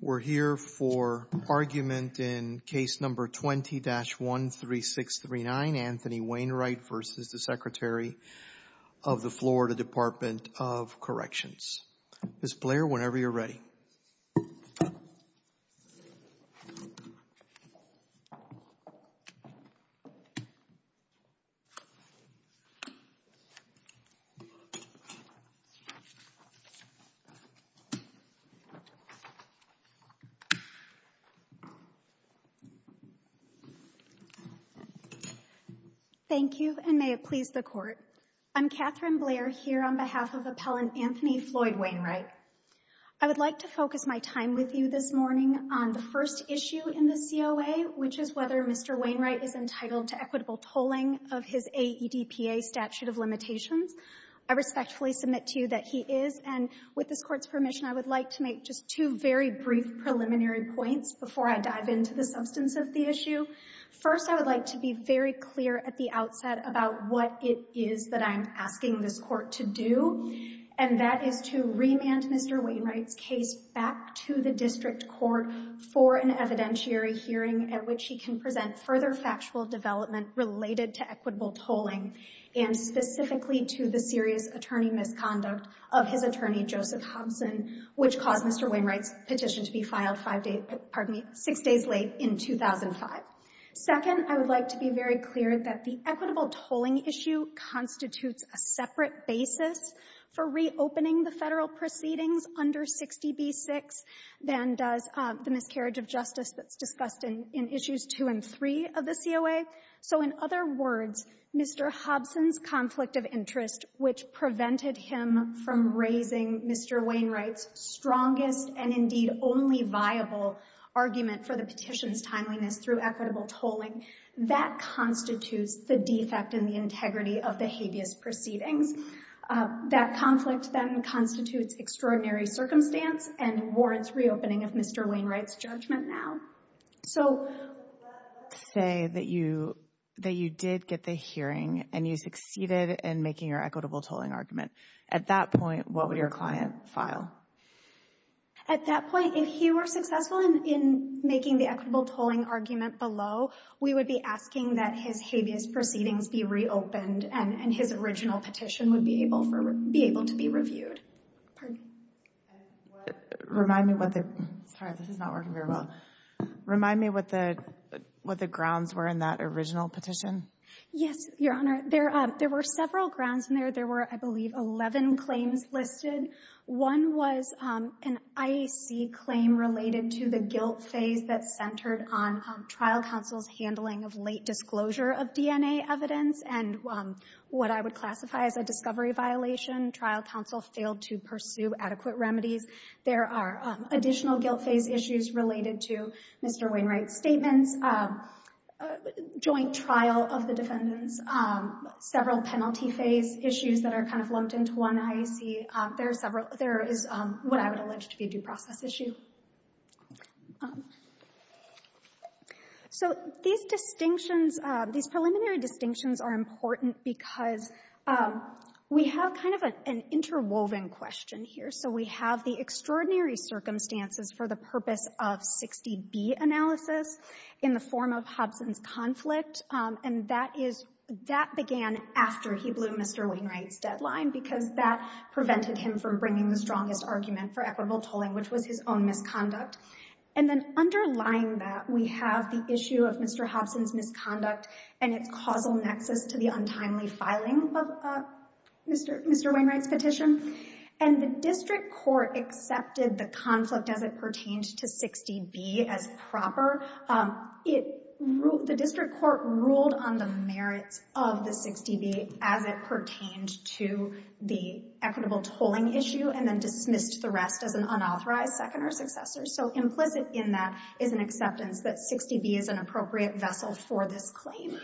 We're here for argument in case number 20-13639, Anthony Wainwright v. Secretary of the Florida Department of Corrections. Ms. Blair, whenever you're ready. Ms. Blair Thank you, and may it please the Court. I'm Catherine Blair here on behalf of Appellant Anthony Floyd Wainwright. I would like to focus my time with you this morning on the first issue in the COA, which is whether Mr. Wainwright is entitled to equitable tolling of his AEDPA statute of limitations. I respectfully submit to you that he is, and with this Court's permission, I would like to make just two very brief preliminary points before I dive into the substance of the issue. First, I would like to be very clear at the outset about what it is that I'm asking this Court to do, and that is to remand Mr. Wainwright's case back to the district court for an evidentiary hearing at which he can present further factual development related to equitable tolling, and specifically to the serious attorney misconduct of his attorney, Joseph Hobson, which caused Mr. Wainwright's petition to be filed five days — pardon me, six days late in 2005. Second, I would like to be very clear that the equitable tolling issue constitutes a separate basis for reopening the Federal proceedings under 60b-6 than does the miscarriage of justice that's discussed in issues 2 and 3 of the COA. So, in other words, Mr. Hobson's conflict of interest, which prevented him from raising Mr. Wainwright's strongest and, indeed, only viable argument for the petition's timeliness through equitable tolling, that constitutes the defect in the integrity of the habeas proceedings. That conflict, then, constitutes extraordinary circumstance and warrants reopening of Mr. Wainwright's judgment now. So, let's say that you did get the hearing and you succeeded in making your equitable tolling argument. At that point, what would your client file? At that point, if he were successful in making the equitable tolling argument below, we would be asking that his habeas proceedings be reopened and his original petition would be able to be reviewed. Sorry, this is not working very well. Remind me what the grounds were in that original petition. Yes, Your Honor. There were several grounds in there. There were, I believe, 11 claims listed. One was an IAC claim related to the guilt phase that centered on trial counsel's handling of late disclosure of DNA evidence and what I would classify as a discovery violation. Trial counsel failed to pursue adequate remedies. There are additional guilt phase issues related to Mr. Wainwright's statements, joint trial of the defendants, several penalty phase issues that are kind of lumped into one IAC. There are several. There is what I would allege to be a due process issue. So, these distinctions, these preliminary distinctions are important because we have kind of an interwoven question here. So, we have the extraordinary circumstances for the purpose of 60B analysis in the form of Hobson's conflict, and that is, that began after he blew Mr. Wainwright's deadline because that prevented him from bringing the strongest argument for equitable tolling, which was his own misconduct. And then underlying that, we have the issue of Mr. Hobson's misconduct and its causal nexus to the untimely filing of Mr. Wainwright's petition. And the district court accepted the conflict as it pertained to 60B as proper. It ruled the district court ruled on the merits of the 60B as it pertained to the equitable tolling issue and then dismissed the rest as an unauthorized second or successor. So, implicit in that is an acceptance that 60B is an appropriate vessel for this claim.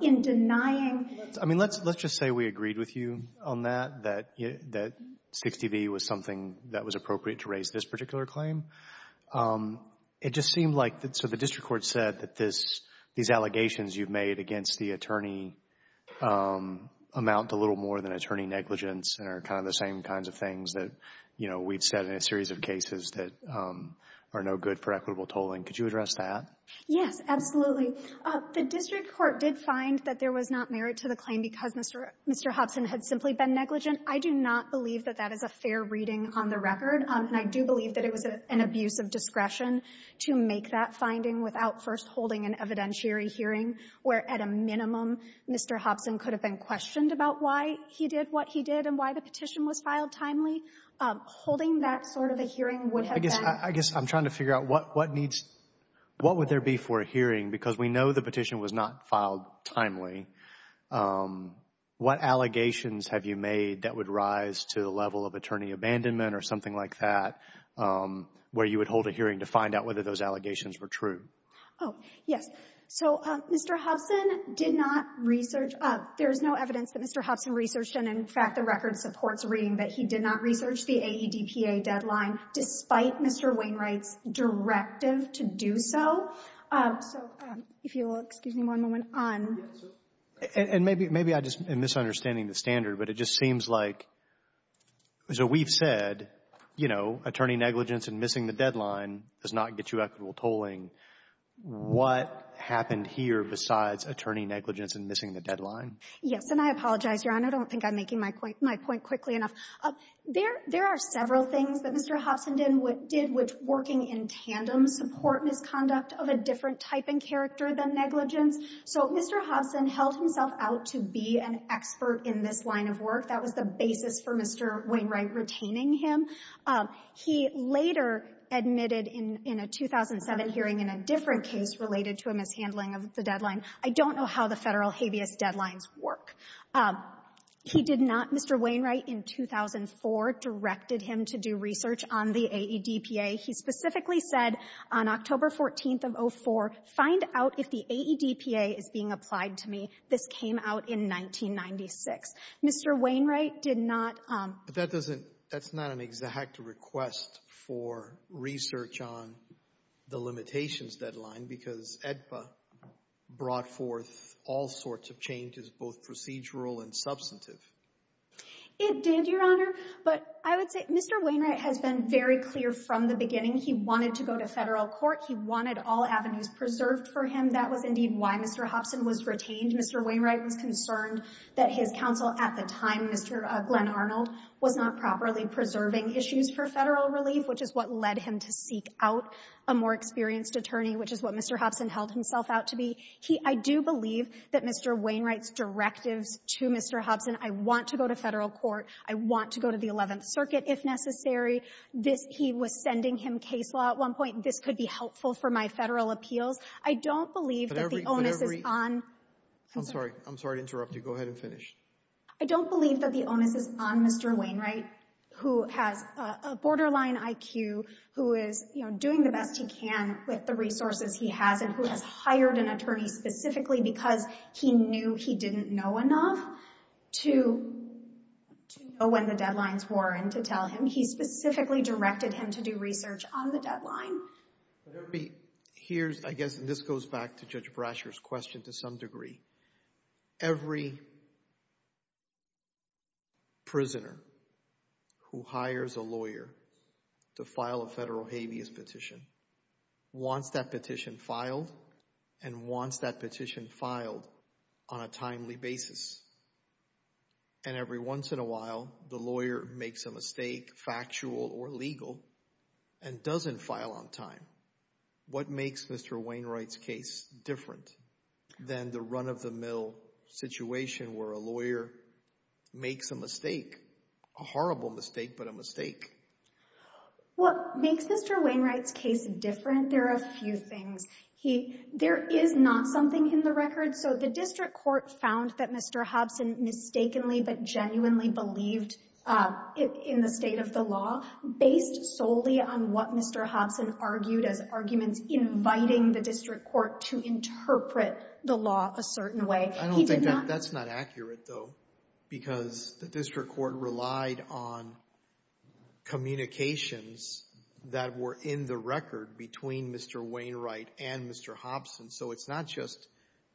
In denying... I mean, let's just say we agreed with you on that, that 60B was something that was appropriate to raise this particular claim. It just seemed like, so the district court said that these allegations you've made against the attorney amount to little more than attorney negligence and are kind of the same kinds of things that, you know, we've said in a series of cases that are no good for equitable tolling. Could you address that? Yes, absolutely. The district court did find that there was not merit to the claim because Mr. Hobson had simply been negligent. I do not believe that that is a fair reading on the record. And I do believe that it was an abuse of discretion to make that finding without first holding an evidentiary hearing where, at a minimum, Mr. Hobson could have been questioned about why he did what he did and why the petition was filed timely. Holding that sort of a hearing would have been... What would there be for a hearing? Because we know the petition was not filed timely. What allegations have you made that would rise to the level of attorney abandonment or something like that where you would hold a hearing to find out whether those allegations were true? Oh, yes. So Mr. Hobson did not research. There is no evidence that Mr. Hobson researched. And, in fact, the record supports reading that he did not research the AEDPA deadline despite Mr. Wainwright's directive to do so. So if you will excuse me one moment. And maybe I'm just misunderstanding the standard, but it just seems like, as we've said, you know, attorney negligence and missing the deadline does not get you equitable tolling. What happened here besides attorney negligence and missing the deadline? Yes, and I apologize, Your Honor. I don't think I'm making my point quickly enough. There are several things that Mr. Hobson did which, working in tandem, support misconduct of a different type and character than negligence. So Mr. Hobson held himself out to be an expert in this line of work. That was the basis for Mr. Wainwright retaining him. He later admitted in a 2007 hearing in a different case related to a mishandling of the deadline. I don't know how the Federal habeas deadlines work. He did not. Mr. Wainwright, in 2004, directed him to do research on the AEDPA. He specifically said on October 14th of 04, find out if the AEDPA is being applied to me. This came out in 1996. Mr. Wainwright did not. But that doesn't—that's not an exact request for research on the limitations deadline because AEDPA brought forth all sorts of changes, both procedural and substantive. It did, Your Honor, but I would say Mr. Wainwright has been very clear from the beginning. He wanted to go to federal court. He wanted all avenues preserved for him. That was indeed why Mr. Hobson was retained. Mr. Wainwright was concerned that his counsel at the time, Mr. Glenn Arnold, was not properly preserving issues for Federal relief, which is what led him to seek out a more experienced attorney, which is what Mr. Hobson held himself out to be. He — I do believe that Mr. Wainwright's directives to Mr. Hobson, I want to go to federal court, I want to go to the Eleventh Circuit if necessary, this — he was sending him case law at one point, this could be helpful for my Federal appeals. I don't believe that the onus is on— I'm sorry. I'm sorry to interrupt you. Go ahead and finish. I don't believe that the onus is on Mr. Wainwright, who has a borderline IQ, who is, you know, doing the best he can with the resources he has and who has hired an attorney specifically because he knew he didn't know enough to know when the deadlines were and to tell him. He specifically directed him to do research on the deadline. Here's — I guess this goes back to Judge Brasher's question to some degree. Every prisoner who hires a lawyer to file a Federal habeas petition wants that petition filed and wants that petition filed on a timely basis. And every once in a while, the lawyer makes a mistake, factual or legal, and doesn't file on time. What makes Mr. Wainwright's case different than the run-of-the-mill situation where a lawyer makes a mistake, a horrible mistake, but a mistake? What makes Mr. Wainwright's case different, there are a few things. He — there is not something in the record. So the district court found that Mr. Hobson mistakenly but genuinely believed in the state of the law based solely on what Mr. Hobson argued as arguments inviting the district court to interpret the law a certain way. I don't think that's not accurate, though, because the district court relied on communications that were in the record between Mr. Wainwright and Mr. Hobson. So it's not just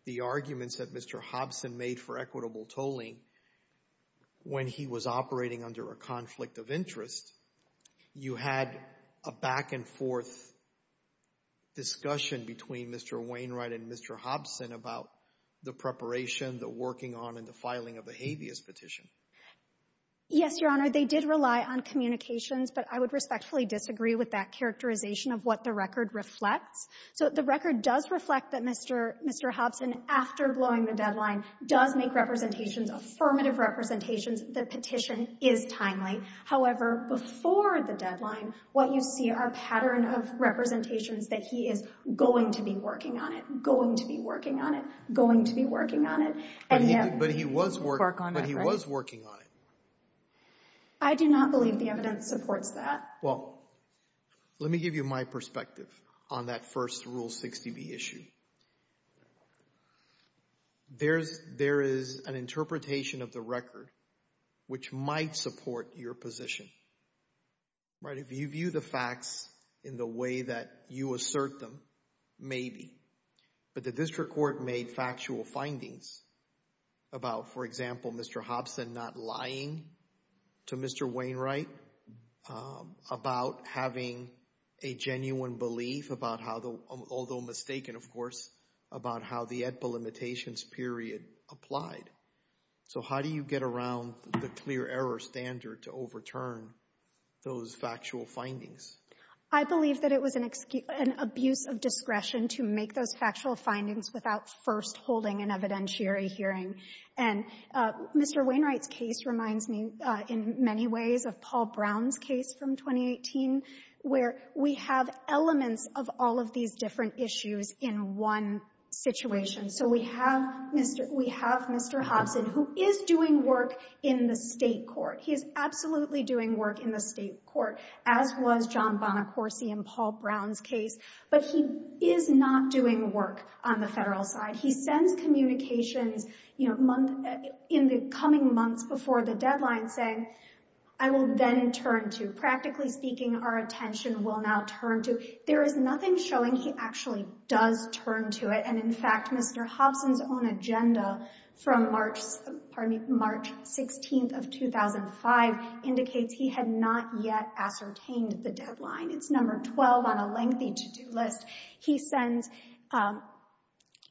the arguments that Mr. Hobson made for equitable tolling when he was operating under a conflict of interest. You had a back-and-forth discussion between Mr. Wainwright and Mr. Hobson about the preparation, the working on, and the filing of the habeas petition. Yes, Your Honor, they did rely on communications, but I would respectfully disagree with that characterization of what the record reflects. So the record does reflect that Mr. Hobson, after blowing the deadline, does make representations, affirmative representations. The petition is timely. However, before the deadline, what you see are pattern of representations that he is going to be working on it, going to be working on it, going to be working on it. But he was working on it. I do not believe the evidence supports that. Well, let me give you my perspective on that first Rule 60B issue. There is an interpretation of the record which might support your position. If you view the facts in the way that you assert them, maybe. But the district court made factual findings about, for example, Mr. Hobson not lying to Mr. Wainwright about having a genuine belief about how the, although mistaken, of course, about how the AEDPA limitations period applied. So how do you get around the clear error standard to overturn those factual findings? I believe that it was an abuse of discretion to make those factual findings without first holding an evidentiary hearing. And Mr. Wainwright's case reminds me in many ways of Paul Brown's case from 2018, where we have elements of all of these different issues in one situation. So we have Mr. Hobson, who is doing work in the state court. He is absolutely doing work in the state court, as was John Bonacorsi and Paul Brown's case. But he is not doing work on the federal side. He sends communications in the coming months before the deadline saying, I will then turn to. Practically speaking, our attention will now turn to. There is nothing showing he actually does turn to it. And, in fact, Mr. Hobson's own agenda from March 16th of 2005 indicates he had not yet ascertained the deadline. It's number 12 on a lengthy to-do list. He sends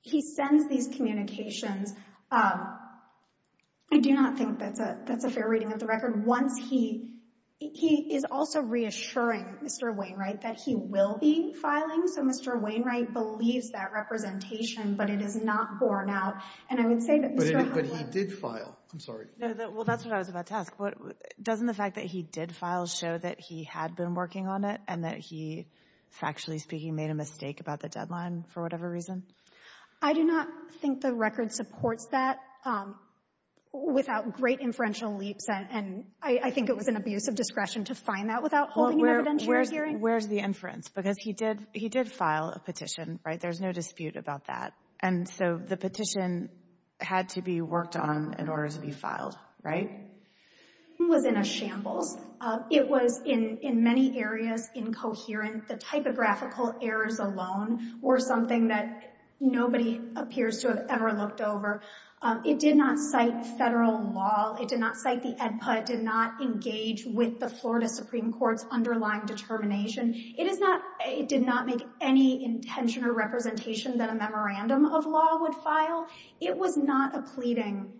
these communications. I do not think that's a fair reading of the record. Once he is also reassuring Mr. Wainwright that he will be filing, so Mr. Wainwright believes that representation, but it is not borne out. And I would say that Mr. Hobson. But he did file. I'm sorry. Well, that's what I was about to ask. Doesn't the fact that he did file show that he had been working on it and that he, factually speaking, made a mistake about the deadline for whatever reason? I do not think the record supports that without great inferential leaps. And I think it was an abuse of discretion to find that without holding an evidentiary hearing. Where's the inference? Because he did file a petition, right? There's no dispute about that. And so the petition had to be worked on in order to be filed, right? It was in a shambles. It was, in many areas, incoherent. The typographical errors alone were something that nobody appears to have ever looked over. It did not cite federal law. It did not cite the EDPA. It did not engage with the Florida Supreme Court's underlying determination. It did not make any intention or representation that a memorandum of law would file. It was not a pleading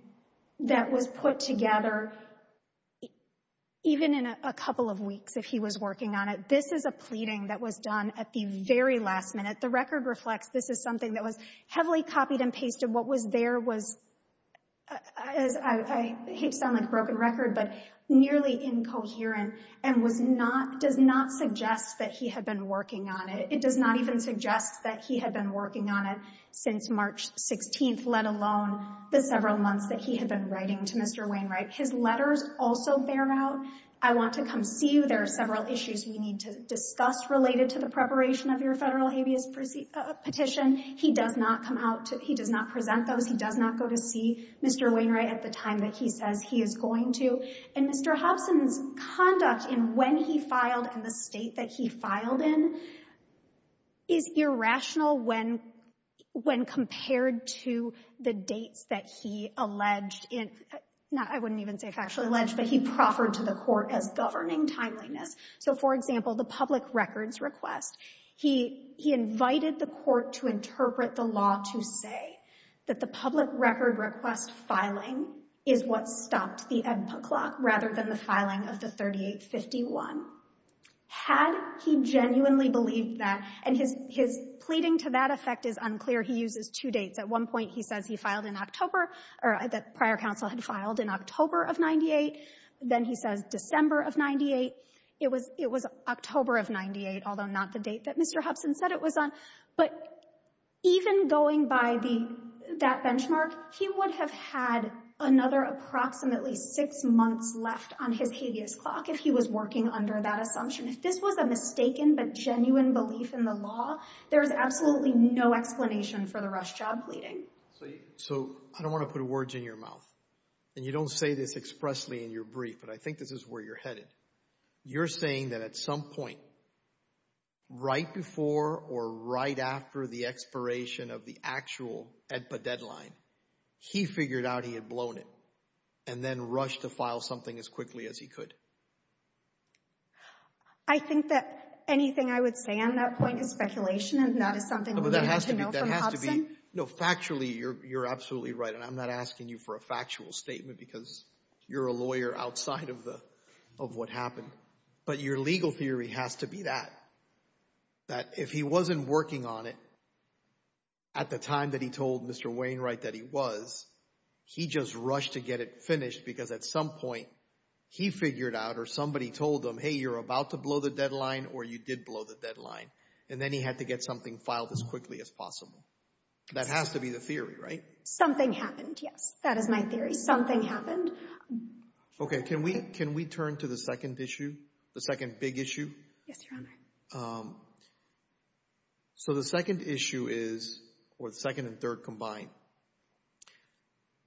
that was put together, even in a couple of weeks, if he was working on it. This is a pleading that was done at the very last minute. The record reflects this is something that was heavily copied and pasted. What was there was, I hate to sound like a broken record, but nearly incoherent and does not suggest that he had been working on it. It does not even suggest that he had been working on it since March 16th, let alone the several months that he had been writing to Mr. Wainwright. His letters also bear out, I want to come see you. There are several issues we need to discuss related to the preparation of your federal habeas petition. He does not come out. He does not present those. He does not go to see Mr. Wainwright at the time that he says he is going to. And Mr. Hobson's conduct in when he filed and the state that he filed in is irrational when compared to the dates that he alleged in, I wouldn't even say factually alleged, but he proffered to the court as governing timeliness. So, for example, the public records request, he invited the court to interpret the law to say that the public record request filing is what stopped the Edpa clock rather than the filing of the 3851. Had he genuinely believed that, and his pleading to that effect is unclear. He uses two dates. At one point he says he filed in October, or that prior counsel had filed in October of 98. Then he says December of 98. It was October of 98, although not the date that Mr. Hobson said it was on. But even going by that benchmark, he would have had another approximately six months left on his habeas clock if he was working under that assumption. If this was a mistaken but genuine belief in the law, there is absolutely no explanation for the rush job pleading. So, I don't want to put words in your mouth, and you don't say this expressly in your brief, but I think this is where you're headed. You're saying that at some point right before or right after the expiration of the actual Edpa deadline, he figured out he had blown it and then rushed to file something as quickly as he could. I think that anything I would say on that point is speculation and that is something we need to know from Hobson. No, factually, you're absolutely right, and I'm not asking you for a factual statement because you're a lawyer outside of what happened. But your legal theory has to be that, that if he wasn't working on it at the time that he told Mr. Wainwright that he was, he just rushed to get it finished because at some point he figured out or somebody told him, hey, you're about to blow the deadline or you did blow the deadline, and then he had to get something filed as quickly as possible. That has to be the theory, right? Something happened, yes. That is my theory. Something happened. Okay, can we turn to the second issue, the second big issue? Yes, Your Honor. So the second issue is, or the second and third combined,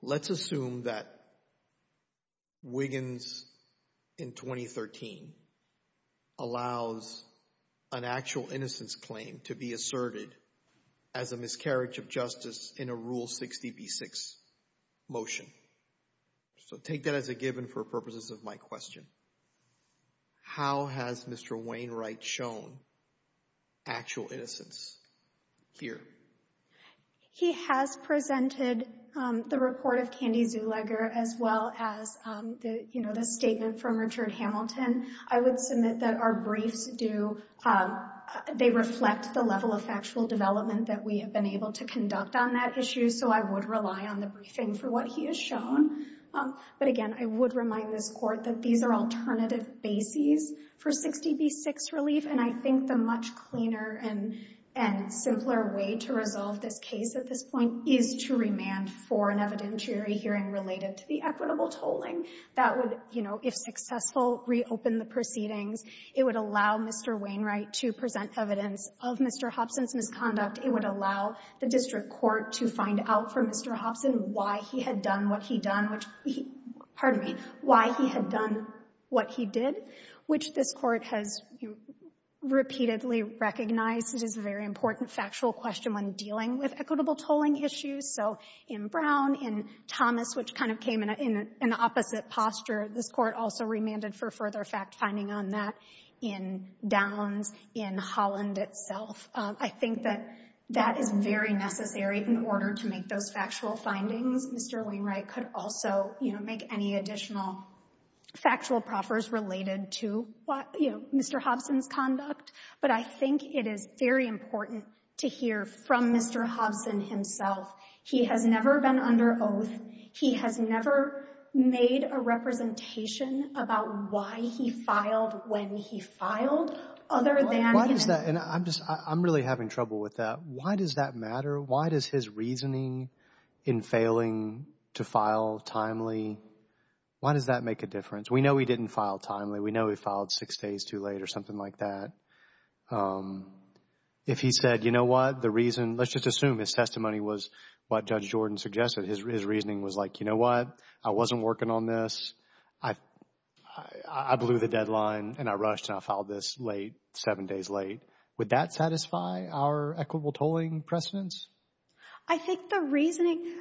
let's assume that Wiggins in 2013 allows an actual innocence claim to be asserted as a miscarriage of justice in a Rule 60b-6 motion. So take that as a given for purposes of my question. How has Mr. Wainwright shown actual innocence here? He has presented the report of Candy Zuleger as well as the statement from Richard Hamilton. I would submit that our briefs do, they reflect the level of factual development that we have been able to conduct on that issue, so I would rely on the briefing for what he has shown. But again, I would remind this Court that these are alternative bases for 60b-6 relief, and I think the much cleaner and simpler way to resolve this case at this point is to remand for an evidentiary hearing related to the equitable tolling. That would, you know, if successful, reopen the proceedings. It would allow Mr. Wainwright to present evidence of Mr. Hobson's misconduct. It would allow the District Court to find out from Mr. Hobson why he had done what he done, which he, pardon me, why he had done what he did, which this Court has repeatedly recognized it is a very important factual question when dealing with equitable tolling issues. So in Brown, in Thomas, which kind of came in an opposite posture, this Court also remanded for further fact-finding on that. In Downs, in Holland itself, I think that that is very necessary in order to make those factual findings. Mr. Wainwright could also, you know, make any additional factual proffers related to, you know, Mr. Hobson's conduct. But I think it is very important to hear from Mr. Hobson himself. He has never been under oath. He has never made a representation about why he filed when he filed other than— Why does that—and I'm really having trouble with that. Why does that matter? Why does his reasoning in failing to file timely, why does that make a difference? We know he didn't file timely. We know he filed six days too late or something like that. If he said, you know what, the reason—let's just assume his testimony was what Judge Jordan suggested. His reasoning was like, you know what, I wasn't working on this. I blew the deadline and I rushed and I filed this late, seven days late. Would that satisfy our equitable tolling precedence? I think the reasoning—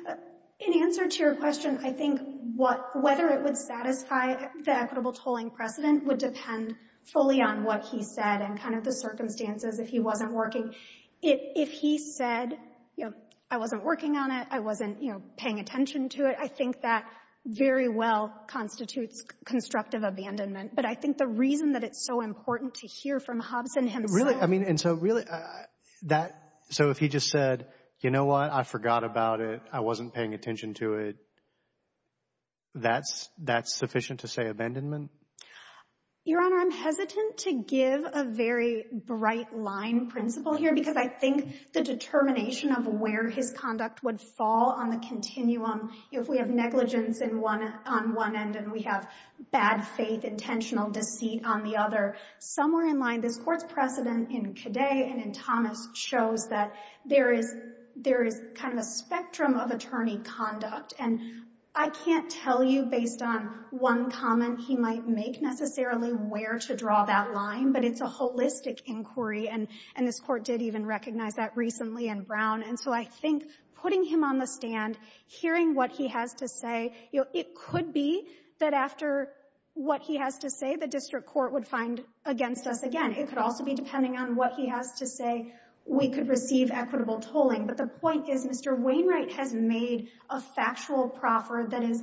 in answer to your question, I think whether it would satisfy the equitable tolling precedent would depend fully on what he said and kind of the circumstances if he wasn't working. If he said, you know, I wasn't working on it, I wasn't, you know, paying attention to it, I think that very well constitutes constructive abandonment. But I think the reason that it's so important to hear from Hobson himself— Really, I mean, and so really, that—so if he just said, you know what, I forgot about it, I wasn't paying attention to it, that's sufficient to say abandonment? Your Honor, I'm hesitant to give a very bright line principle here because I think the determination of where his conduct would fall on the continuum if we have negligence on one end and we have bad faith, intentional deceit on the other. Somewhere in line, this Court's precedent in Cadet and in Thomas shows that there is kind of a spectrum of attorney conduct. And I can't tell you based on one comment he might make necessarily where to draw that line, but it's a holistic inquiry, and this Court did even recognize that recently in Brown. And so I think putting him on the stand, hearing what he has to say, you know, it could be that after what he has to say, the District Court would find against us again. It could also be depending on what he has to say, we could receive equitable tolling. But the point is, Mr. Wainwright has made a factual proffer that is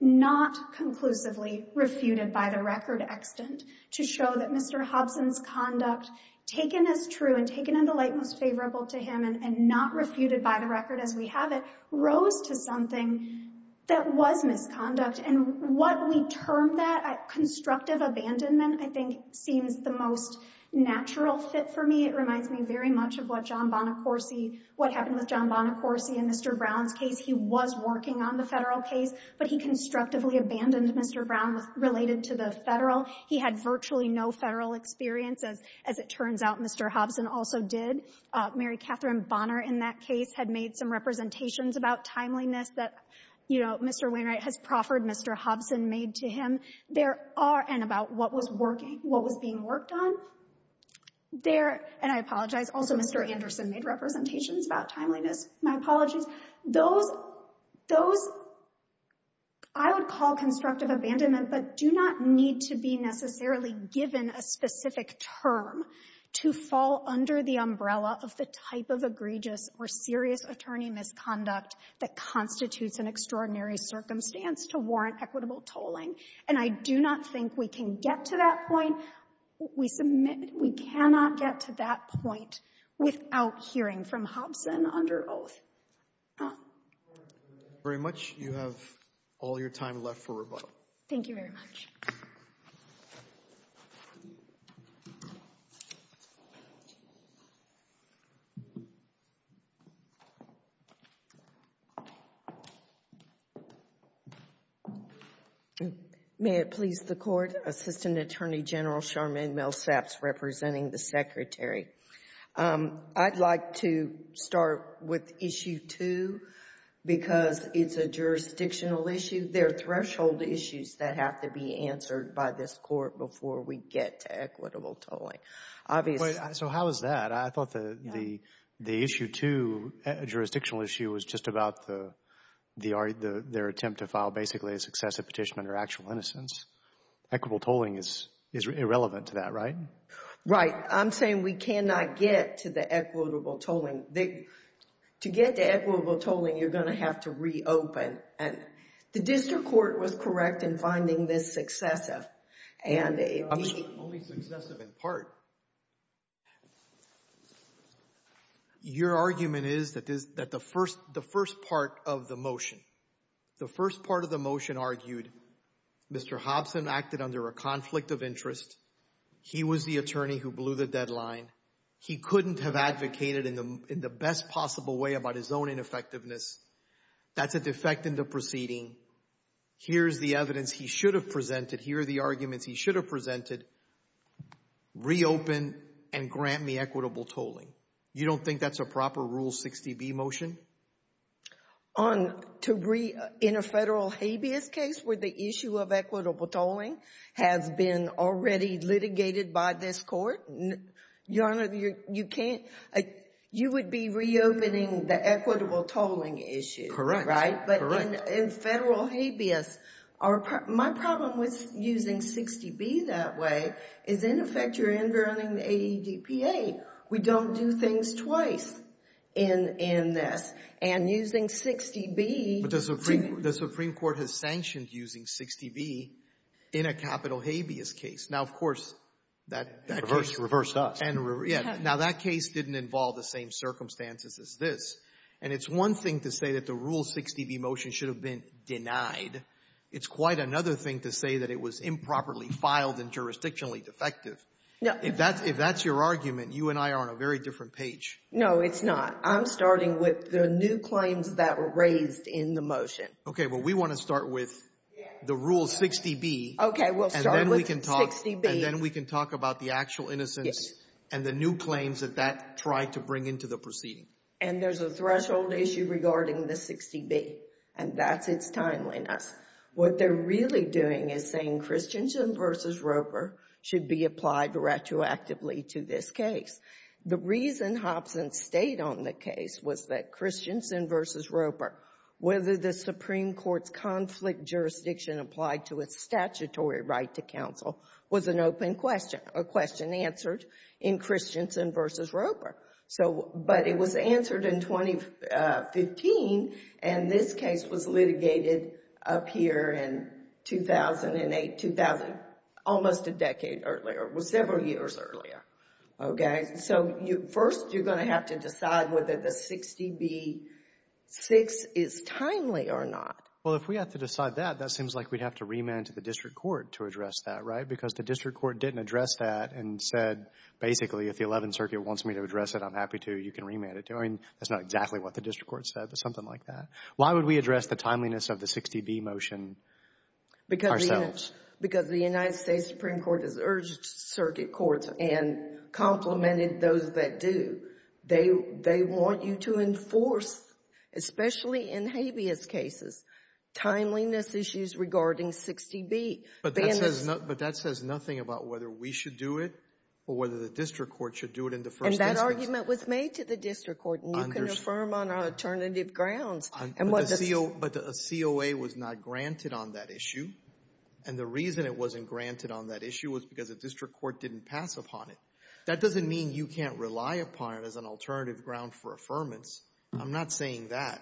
not conclusively refuted by the record extant to show that Mr. Hobson's conduct, taken as true and taken in the light most favorable to him and not refuted by the record as we have it, rose to something that was misconduct. And what we term that constructive abandonment, I think seems the most natural fit for me. It reminds me very much of what John Bonacorsi, what happened with John Bonacorsi in Mr. Brown's case. He was working on the Federal case, but he constructively abandoned Mr. Brown related to the Federal. He had virtually no Federal experience as it turns out Mr. Hobson also did. Mary Catherine Bonner in that case had made some representations about timeliness that you know, Mr. Wainwright has proffered, Mr. Hobson made to him. There are, and about what was working, what was being worked on, there, and I apologize, also Mr. Anderson made representations about timeliness. My apologies. Those, those I would call constructive abandonment, but do not need to be necessarily given a specific term to fall under the umbrella of the type of egregious or serious attorney misconduct that constitutes an extraordinary circumstance to warrant equitable tolling. And I do not think we can get to that point. We submit, we cannot get to that point without hearing from Hobson under oath. Thank you very much. You have all your time left for rebuttal. Thank you very much. Thank you. May it please the Court. Assistant Attorney General Charmaine Millsaps representing the Secretary. I'd like to start with Issue 2 because it's a jurisdictional issue. There are questions that have been answered by this Court before we get to equitable tolling. So how is that? I thought the Issue 2 jurisdictional issue was just about their attempt to file basically a successive petition under actual innocence. Equitable tolling is irrelevant to that, right? Right. I'm saying we cannot get to the equitable tolling. To get to equitable tolling, you're going to have to reopen. The District Court was correct in finding this successive. Only successive in part. Your argument is that the first part of the motion, the first part of the motion argued Mr. Hobson acted under a conflict of interest. He was the attorney who blew the deadline. He couldn't have advocated in the best possible way about his own ineffectiveness. That's a defect in the proceeding. Here's the evidence he should have presented. Here are the arguments he should have presented. Reopen and grant me equitable tolling. You don't think that's a proper Rule 60B motion? In a Federal habeas case where the issue of equitable tolling has been already litigated by this Court? Your Honor, you would be reopening the equitable in Federal habeas. My problem with using 60B that way is, in effect, you're underwriting the AEDPA. We don't do things twice in this. And using 60B... But the Supreme Court has sanctioned using 60B in a Capital Habeas case. Now, of course, that case... Reversed us. Yeah. Now, that case didn't involve the same circumstances as this. And it's one thing to say that the Rule 60B motion should have been denied. It's quite another thing to say that it was improperly filed and jurisdictionally defective. If that's your argument, you and I are on a very different page. No, it's not. I'm starting with the new claims that were raised in the motion. Okay. Well, we want to start with the Rule 60B. Okay. We'll start with 60B. And then we can talk about the actual innocence and the new claims that that tried to bring into the proceeding. And there's a threshold issue regarding the 60B. And that's its timeliness. What they're really doing is saying Christensen v. Roper should be applied retroactively to this case. The reason Hobson stayed on the case was that Christensen v. Roper, whether the Supreme Court's conflict jurisdiction applied to its statutory right to counsel was an open question, a question answered in Christensen v. Roper. But it was answered in 2015 and this case was litigated up here in 2008, 2000, almost a decade earlier. It was several years earlier. Okay. So first you're going to have to decide whether the 60B-6 is timely or not. Well, if we have to decide that, that seems like we'd have to remand to the district court to address that, right? Because the district court didn't address that and said basically if the Eleventh Circuit wants me to address it, I'm happy to. You can remand it. That's not exactly what the district court said, but something like that. Why would we address the timeliness of the 60B motion ourselves? Because the United States Supreme Court has urged circuit courts and complimented those that do. They want you to enforce, especially in habeas cases, timeliness issues regarding 60B. But that says nothing about whether we should do it or whether the district court should do it in the first instance. And that argument was made to the district court and you can affirm on alternative grounds. But the COA was not granted on that issue and the reason it wasn't granted on that issue was because the district court didn't pass upon it. That doesn't mean you can't rely upon it as an alternative ground for affirmance. I'm not saying that.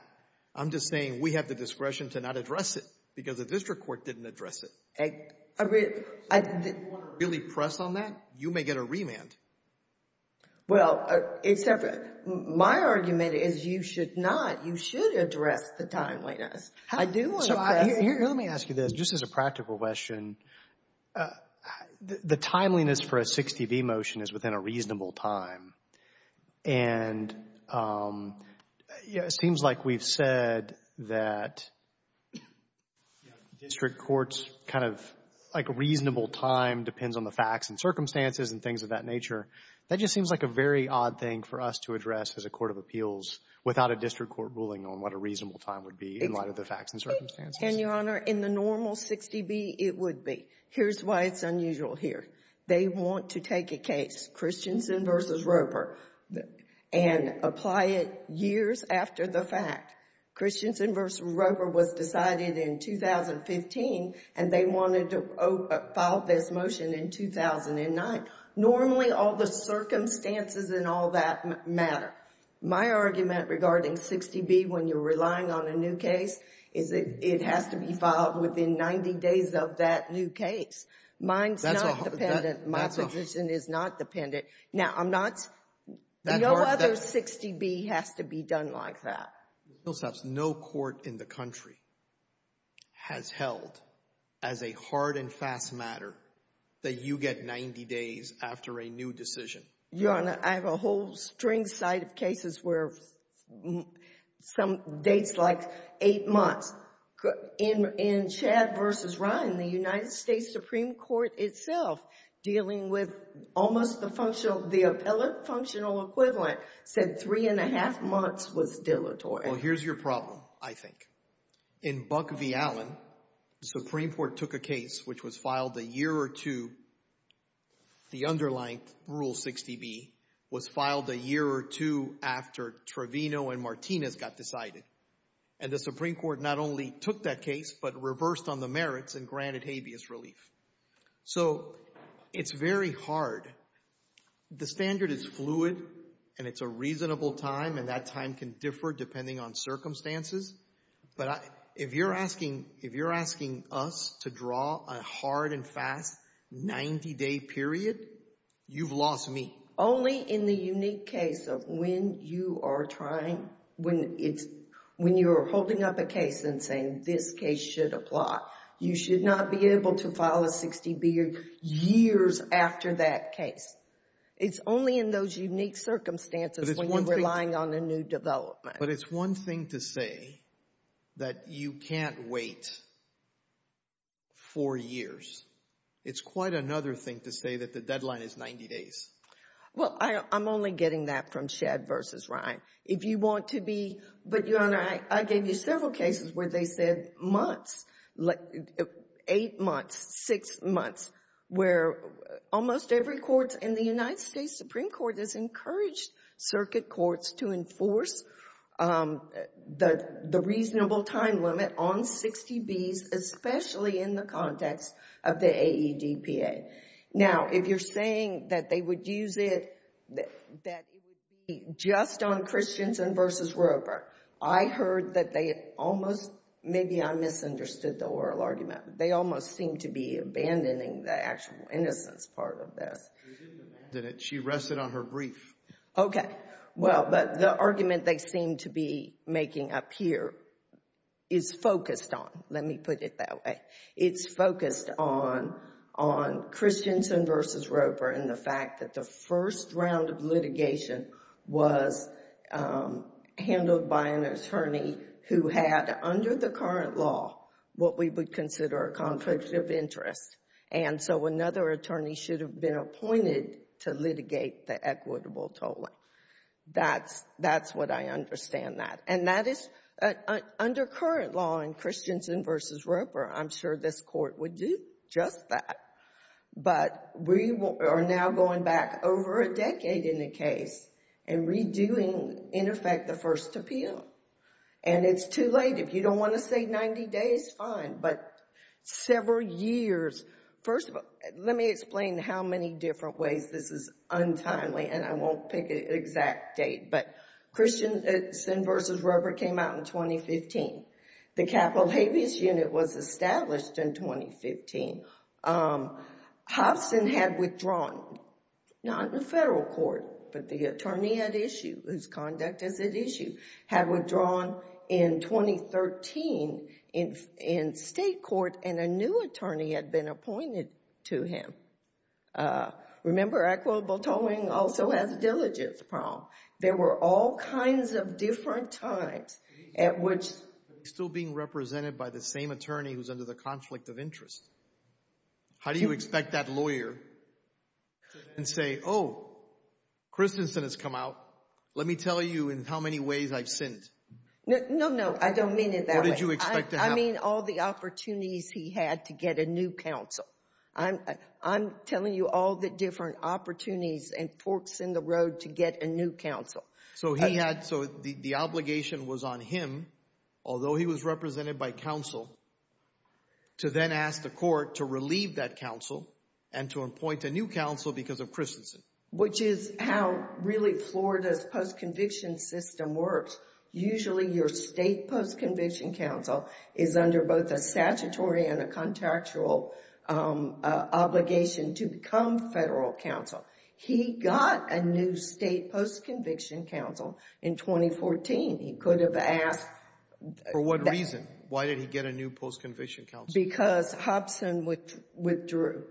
I'm just saying we have the discretion to not address it because the district court didn't address it. If you want to really press on that, you may get a remand. Well, my argument is you should not. You should address the timeliness. Let me ask you this, just as a practical question. The timeliness for a 60B motion is within a reasonable time and it seems like we've said that district courts kind of like reasonable time depends on the facts and circumstances and things of that nature. That just seems like a very odd thing for us to address as a court of appeals without a district court ruling on what a reasonable time would be in light of the facts and circumstances. And, Your Honor, in the normal 60B, it would be. Here's why it's unusual here. They want to take a case, Christensen v. Roper, and apply it years after the fact. Christensen v. Roper was decided in 2015 and they wanted to file this motion in 2009. Normally, all the circumstances and all that matter. My argument regarding 60B when you're relying on a new case is it has to be filed within 90 days of that new case. Mine's not dependent. My position is not dependent. Now, I'm not. No other 60B has to be done like that. Ms. Millsaps, no court in the country has held as a hard and fast matter that you get 90 days after a new decision. Your Honor, I have a whole string side of cases where some dates like eight months. In Chad v. Ryan, the United States Supreme Court itself dealing with almost the functional, the appellate functional equivalent said three and a half months was dilatory. Well, here's your problem, I think. In Buck v. Allen, the Supreme Court took a case which was filed a year or two the underlined Rule 60B was filed a year or two after Trevino and Martinez got decided. And the Supreme Court not only took that case, but reversed on the merits and granted habeas relief. So, it's very hard. The standard is fluid and it's a reasonable time and that time can differ depending on circumstances, but if you're asking us to draw a hard and fast 90-day period, you've lost me. Only in the unique case of when you are trying when you're holding up a case and saying this case should apply. You should not be able to file a 60B years after that case. It's only in those unique circumstances when you're relying on a new development. But it's one thing to say that you can't wait for years. It's quite another thing to say that the deadline is 90 days. Well, I'm only getting that from Chad v. Ryan. If you want to be, but Your Honor, I gave you several cases where they said months, eight months, six months, where almost every court in the United States Supreme Court has encouraged circuit courts to enforce the reasonable time limit on 60Bs, especially in the context of the AEDPA. Now, if you're saying that they would use it, that it would be just on Christensen v. Roper, I heard that they almost, maybe I misunderstood the oral argument, they almost seem to be abandoning the actual innocence part of this. She rested on her brief. Okay. Well, but the argument they seem to be making up here is focused on, let me put it that way, it's focused on Christensen v. Roper and the fact that the first round of litigation was handled by an attorney who had, under the current law, what we would consider a conflict of interest, and so another attorney should have been appointed to litigate the equitable tolling. That's what I understand that. And that is under current law in Christensen v. Roper, I'm sure this Court would do just that. But we are now going back over a decade in the case and redoing, in effect, the first appeal. And it's too late. If you don't want to say 90 days, fine, but several years. First of all, let me explain how many different ways this is untimely, and I won't pick an exact date, but Christensen v. Roper came out in 2015. The capital habeas unit was established in 2015. Hobson had withdrawn, not in the federal court, but the attorney at issue, whose conduct is at issue, had withdrawn in 2013 in state court, and a new attorney had been appointed to him. Remember, equitable tolling also has a diligence problem. There were all kinds of different times at which... Still being represented by the same attorney who's under the conflict of interest. How do you expect that lawyer can say, oh, Christensen has come out, let me tell you in how many ways I've sinned? No, no, I don't mean it that way. What did you expect to happen? I mean all the opportunities he had to get a new counsel. I'm telling you all the different opportunities and forks in the road to get a new counsel. So he had, so the obligation was on him, although he was represented by counsel, to then ask the court to appoint a new counsel because of Christensen. Which is how really Florida's post-conviction system works. Usually your state post-conviction counsel is under both a statutory and a contractual obligation to become federal counsel. He got a new state post-conviction counsel in 2014. He could have asked... For what reason? Why did he get a new post-conviction counsel? Because Hobson withdrew.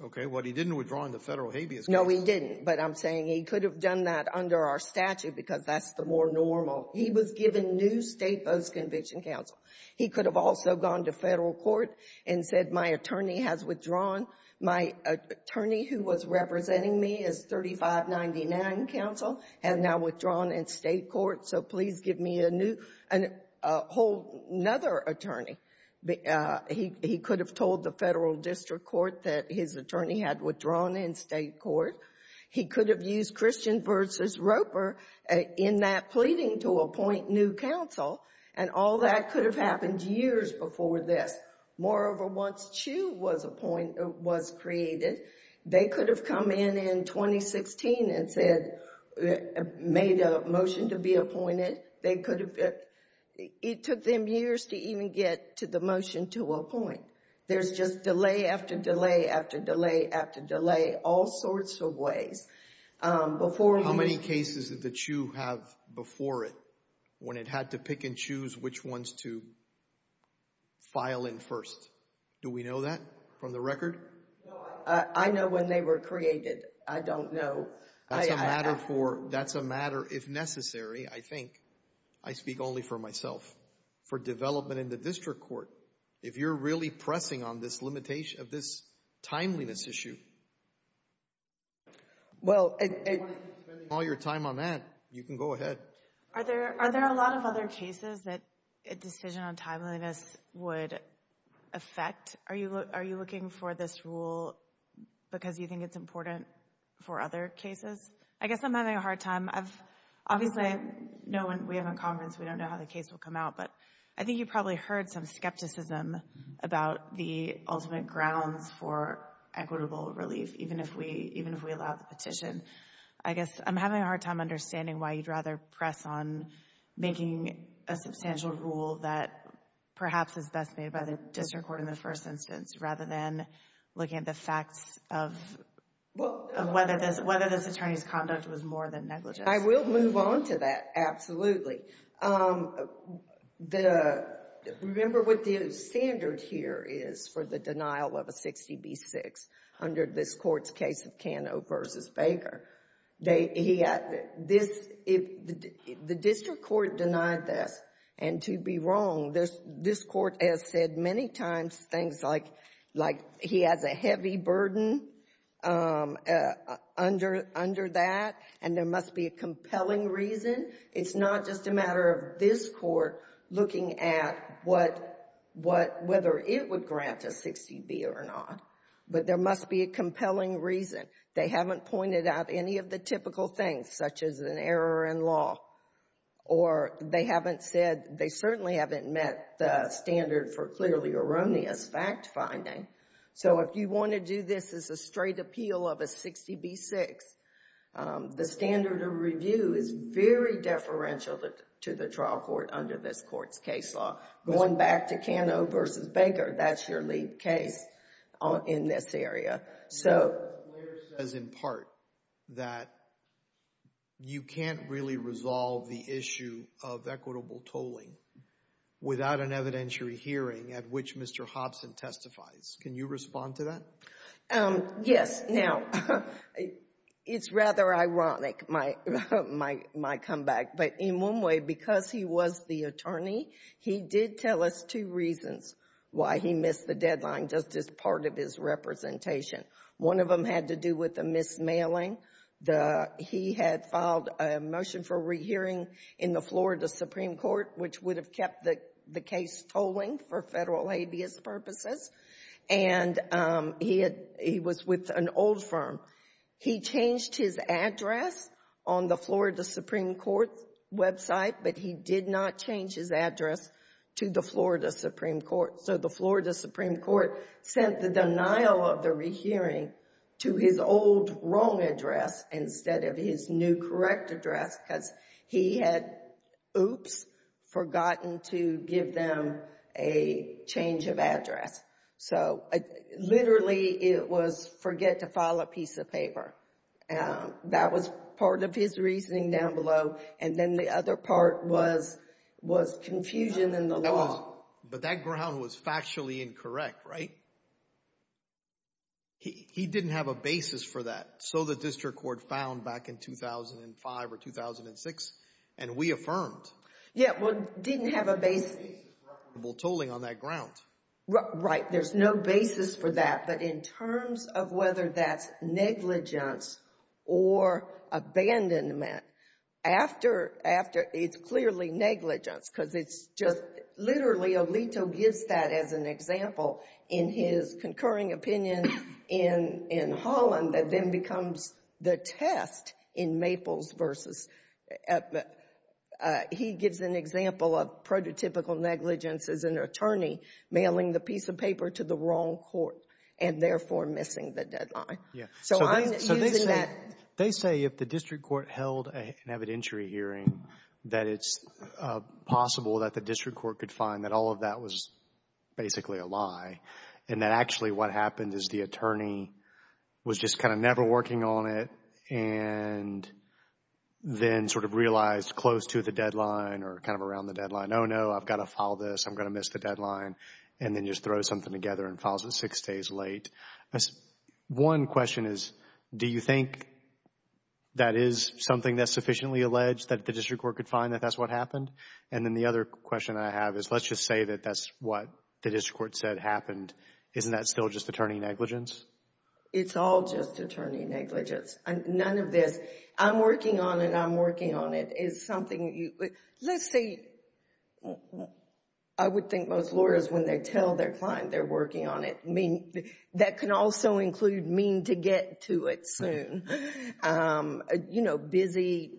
Okay. Well, he didn't withdraw in the Federal Habeas Clause. No, he didn't. But I'm saying he could have done that under our statute because that's the more normal. He was given new state post-conviction counsel. He could have also gone to Federal court and said my attorney has withdrawn. My attorney who was representing me is 3599 counsel, has now withdrawn in State court, so please give me a new, a whole other attorney. He could have told the Federal District Court that his attorney had withdrawn in State court. He could have used Christian v. Roper in that pleading to appoint new counsel. And all that could have happened years before this. Moreover, once Chu was appointed, was created, they could have come in in 2016 and said, made a motion to be appointed. They could have... It took them years to even get to the motion to appoint. There's just delay after delay after delay after delay, all sorts of ways. How many cases did the Chu have before it when it had to pick and choose which ones to file in first? Do we know that from the record? I know when they were created. I don't know. That's a matter for, that's a matter if necessary, I think. I speak only for myself. For development in the District Court, if you're really pressing on this limitation of this timeliness issue... If you want to spend all your time on that, you can go ahead. Are there a lot of other cases that a decision on timeliness would affect? Are you looking for this rule because you think it's important for other cases? I guess I'm having a hard time. Obviously, I know when we have a conference, we don't know how the case will come out, but I think you probably heard some skepticism about the ultimate grounds for equitable relief, even if we allow the petition. I guess I'm having a hard time understanding why you'd rather press on making a substantial rule that perhaps is best made by the District Court in the first instance, rather than looking at the facts of whether this attorney's conduct was more than negligent. I will move on to that. Absolutely. Remember what the standard here is for the denial of a 60B6 under this Court's case of Cano v. Baker. The District Court denied this, and to be wrong, this Court has said many times things like he has a heavy burden under that, and there must be a compelling reason. It's not just a matter of this Court looking at whether it would grant a 60B or not, but there must be a compelling reason. They haven't pointed out any of the typical things, such as an error in law, or they certainly haven't met the standard for clearly erroneous fact-finding. If you want to do this as a straight appeal of a 60B6, the standard of review is very deferential to the trial court under this Court's case law. Going back to Cano v. Baker, that's your lead case in this area. You can't really resolve the issue of equitable tolling without an evidentiary hearing at which Mr. Hobson testifies. Can you respond to that? Yes. Now, it's rather ironic my comeback, but in one way, because he was the attorney, he did tell us two reasons why he missed the deadline, just as part of his representation. One of them had to do with the mismailing. He had filed a motion for re-hearing in the Florida Supreme Court, which would have kept the case tolling for federal habeas purposes, and he was with an old firm. He changed his address on the Florida Supreme Court website, but he did not change his address to the Florida Supreme Court. So the Florida Supreme Court sent the denial of the re-hearing to his old wrong address instead of his new correct address, because he had oops, forgotten to give them a change of address. So literally, it was forget to file a piece of paper. That was part of his reasoning down below, and then the other part was confusion in the law. But that ground was factually incorrect, right? He didn't have a basis for that. So the district court found back in 2005 or 2006, and we affirmed. Yeah, well, didn't have a basis for equitable tolling on that ground. Right, there's no basis for that, but in terms of whether that's negligence or abandonment, after it's clearly negligence, because it's just literally Alito gives that as an example in his concurring opinion in Holland that then becomes the test in Maples versus he gives an example of prototypical negligence as an attorney mailing the piece of paper to the wrong court and therefore missing the deadline. So I'm using that. They say if the district court held an evidentiary hearing that it's possible that the district court could find that all of that was basically a lie and that actually what happened is the attorney was just kind of never working on it and then sort of realized close to the deadline or kind of around the deadline. Oh no, I've got to file this. I'm going to miss the deadline. And then just throws something together and files it six days late. One question is do you think that is something that's sufficiently alleged that the district court could find that that's what happened? And then the other question I have is let's just say that that's what the district court said happened. Isn't that still just attorney negligence? It's all just attorney negligence. None of this I'm working on and I'm working on it is something let's say I would think most lawyers when they tell their client they're working on it that can also include mean to get to it soon. You know, busy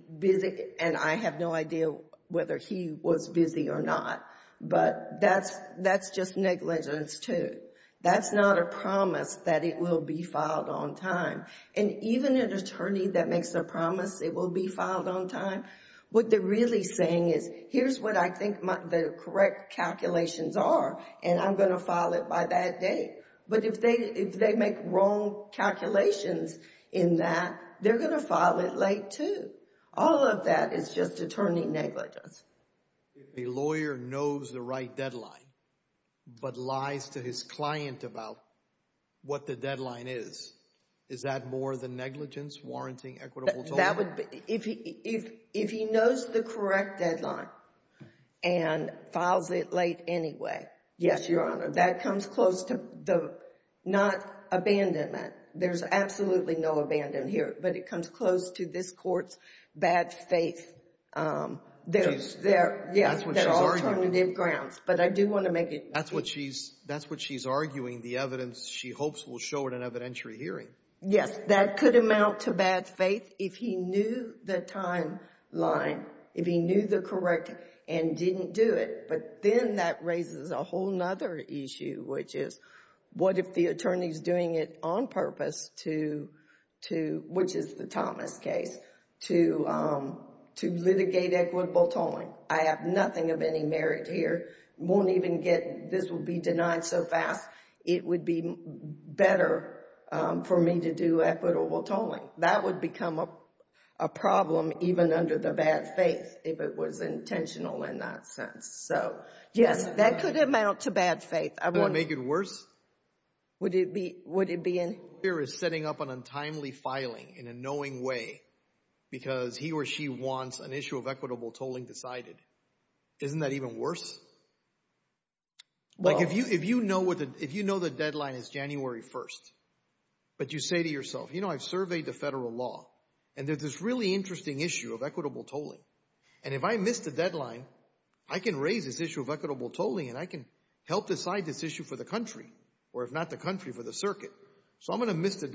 and I have no idea whether he was busy or not. But that's just negligence too. That's not a promise that it will be filed on time. And even an attorney that makes a promise it will be filed on time, what they're really saying is here's what I think the correct calculations are and I'm going to file it by that date. But if they make wrong calculations in that, they're going to file it late too. All of that is just attorney negligence. If a lawyer knows the right deadline but lies to his client about what the deadline is, is that more than negligence, warranting, equitable total? If he knows the correct deadline and files it late anyway, yes, Your Honor. That comes close to not abandonment. There's absolutely no abandonment here, but it comes close to this court's bad faith. That's what she's arguing. That's what she's arguing, the evidence she hopes will show in an evidentiary hearing. Yes, that could amount to bad faith if he knew the timeline, if he knew the correct and didn't do it. But then that raises a whole other issue, which is what if the attorney is doing it on purpose to, which is the Thomas case, to litigate equitable here, won't even get, this will be denied so fast, it would be better for me to do equitable tolling. That would become a problem even under the bad faith if it was intentional in that sense. Yes, that could amount to bad faith. Would it make it worse? Would it be? Would it be? A lawyer is setting up an untimely filing in a knowing way because he or she wants an issue of equitable tolling decided. Isn't that even worse? If you know the deadline is January 1st, but you say to yourself, you know, I've surveyed the federal law, and there's this really interesting issue of equitable tolling, and if I miss the deadline, I can raise this issue of equitable tolling, and I can help decide this issue for the country, or if not the country, for the circuit. So I'm going to miss the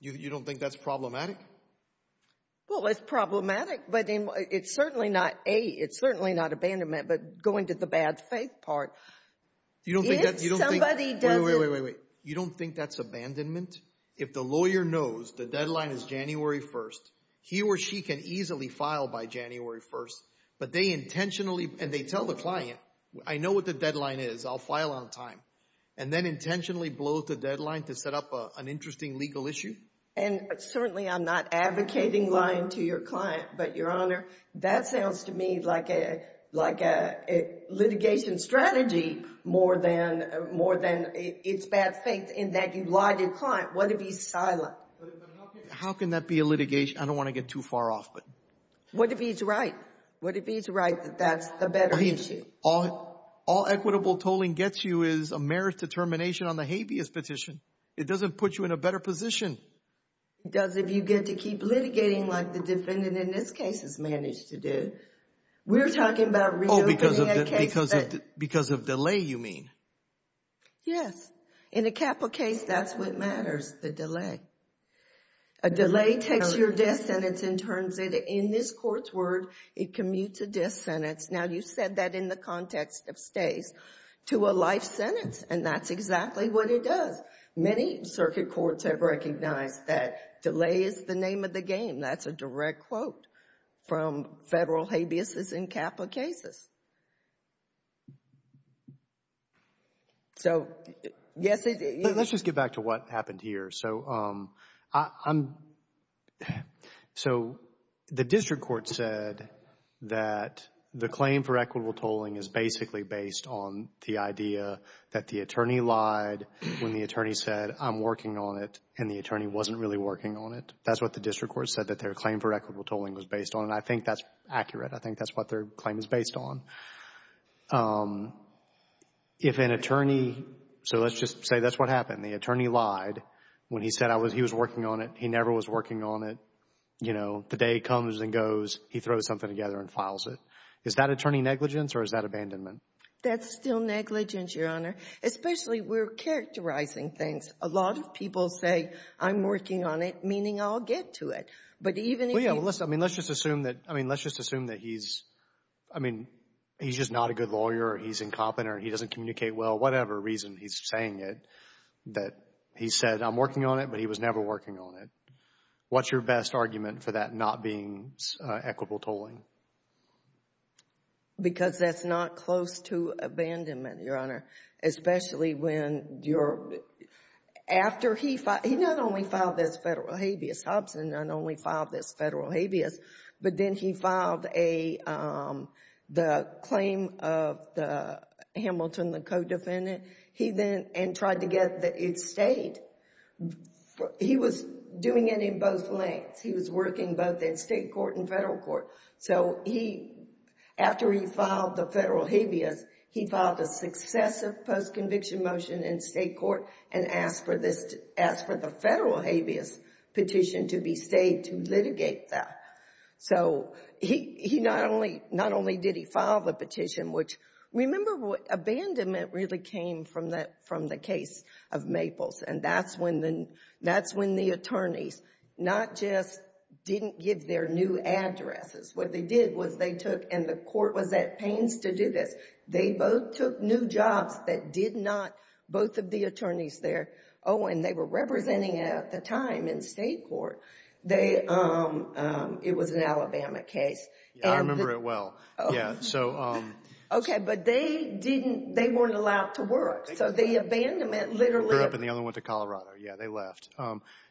You don't think that's problematic? Well, it's problematic, but it's certainly not, A, it's certainly not abandonment, but going to the bad faith part. Wait, wait, wait. You don't think that's abandonment? If the lawyer knows the deadline is January 1st, he or she can easily file by January 1st, but they intentionally, and they tell the client, I know what the deadline is, I'll file on time, and then intentionally blow the deadline to set up an interesting legal issue? And certainly I'm not advocating lying to your client, but Your Honor, that sounds to me like a litigation strategy more than it's bad faith in that you lied to your client. What if he's silent? How can that be a litigation? I don't want to get too far off. What if he's right? What if he's right that that's the better issue? All equitable tolling gets you is a merit determination on the habeas petition. It doesn't put you in a better position. It does if you get to keep litigating like the defendant in this case has managed to do. We're talking about reopening a case that Because of delay, you mean? Yes. In a capital case, that's what matters, the delay. A delay takes your death sentence and turns it, in this court's word, it commutes to death sentence. Now, you said that in the context of stays, to a life sentence, and that's exactly what it does. Many circuit courts have recognized that delay is the name of the game. That's a direct quote from federal habeas in capital cases. So, yes. Let's just get back to what happened here. So, the district court said that the claim for equitable tolling is basically based on the idea that the attorney lied when the attorney said, I'm working on it, and the attorney wasn't really working on it. That's what the district court said that their claim for equitable tolling was based on, and I think that's accurate. I think that's what their claim is based on. If an attorney, so let's just say that's what happened. The attorney lied when he said he was working on it. He never was working on it. You know, the day comes and goes, he throws something together and files it. Is that attorney negligence, or is that abandonment? That's still negligence, Your Honor, especially we're characterizing things. A lot of people say, I'm working on it, meaning I'll get to it, but even if you Well, yeah, let's just assume that he's, I mean, he's just not a good lawyer, or he's incompetent, or he doesn't communicate well, whatever reason he's saying it, that he said, I'm working on it, but he was never working on it. What's your best argument for that not being equitable tolling? Because that's not close to abandonment, Your Honor, especially when you're, after he, he not only filed this federal habeas, Hobson not only filed this federal habeas, but then he filed a, the claim of the Hamilton, the co-defendant, he then, and tried to get the he was doing it in both lengths. He was working both in state court and federal court. So he, after he filed the federal habeas, he filed a successive post-conviction motion in state court and asked for this, asked for the federal habeas petition to be stayed to litigate that. So he not only, not only did he file the petition, which remember what, abandonment really came from the case of Maples, and that's when the, that's when the attorneys not just didn't give their new addresses. What they did was they took, and the court was at pains to do this, they both took new jobs that did not, both of the attorneys there, oh, and they were representing it at the time in state court. They it was an Alabama case. I remember it well. Yeah, so. Okay, but they didn't, they weren't allowed to work. So the abandonment literally. They were the only one to Colorado. Yeah, they left.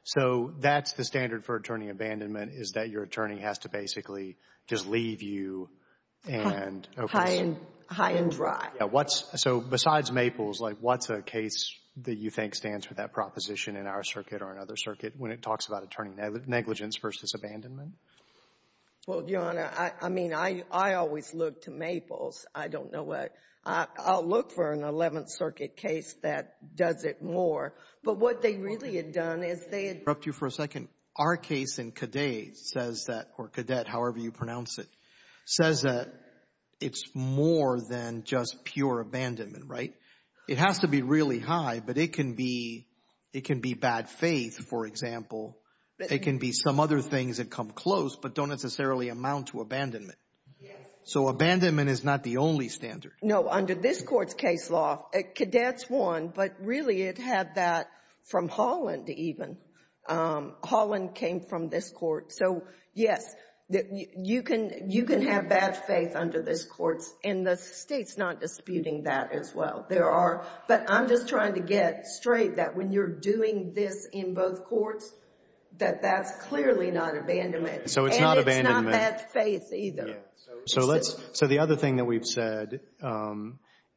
So that's the standard for attorney abandonment is that your attorney has to basically just leave you and. High and dry. Yeah, what's, so besides Maples, like what's a case that you think stands for that proposition in our circuit or another circuit when it talks about attorney negligence versus abandonment? Well, Your Honor, I mean, I always look to Maples. I don't know what I'll look for an 11th Circuit case that does it more, but what they really had done is they had. I'll interrupt you for a second. Our case in Cadet says that, or Cadet, however you pronounce it, says that it's more than just pure abandonment, right? It has to be really high, but it can be, it can be bad faith, for example. It can be some other things that come close, but don't necessarily amount to abandonment. Yes. So abandonment is not the only standard. No, under this Court's case law, Cadets won, but really it had that from Holland even. Holland came from this Court, so yes, you can have bad faith under this Court, and the State's not disputing that as well. There are, but I'm just trying to get straight that when you're doing this in both Courts, that that's clearly not abandonment. So it's not abandonment. And it's not bad faith either. Right. So let's, so the other thing that we've said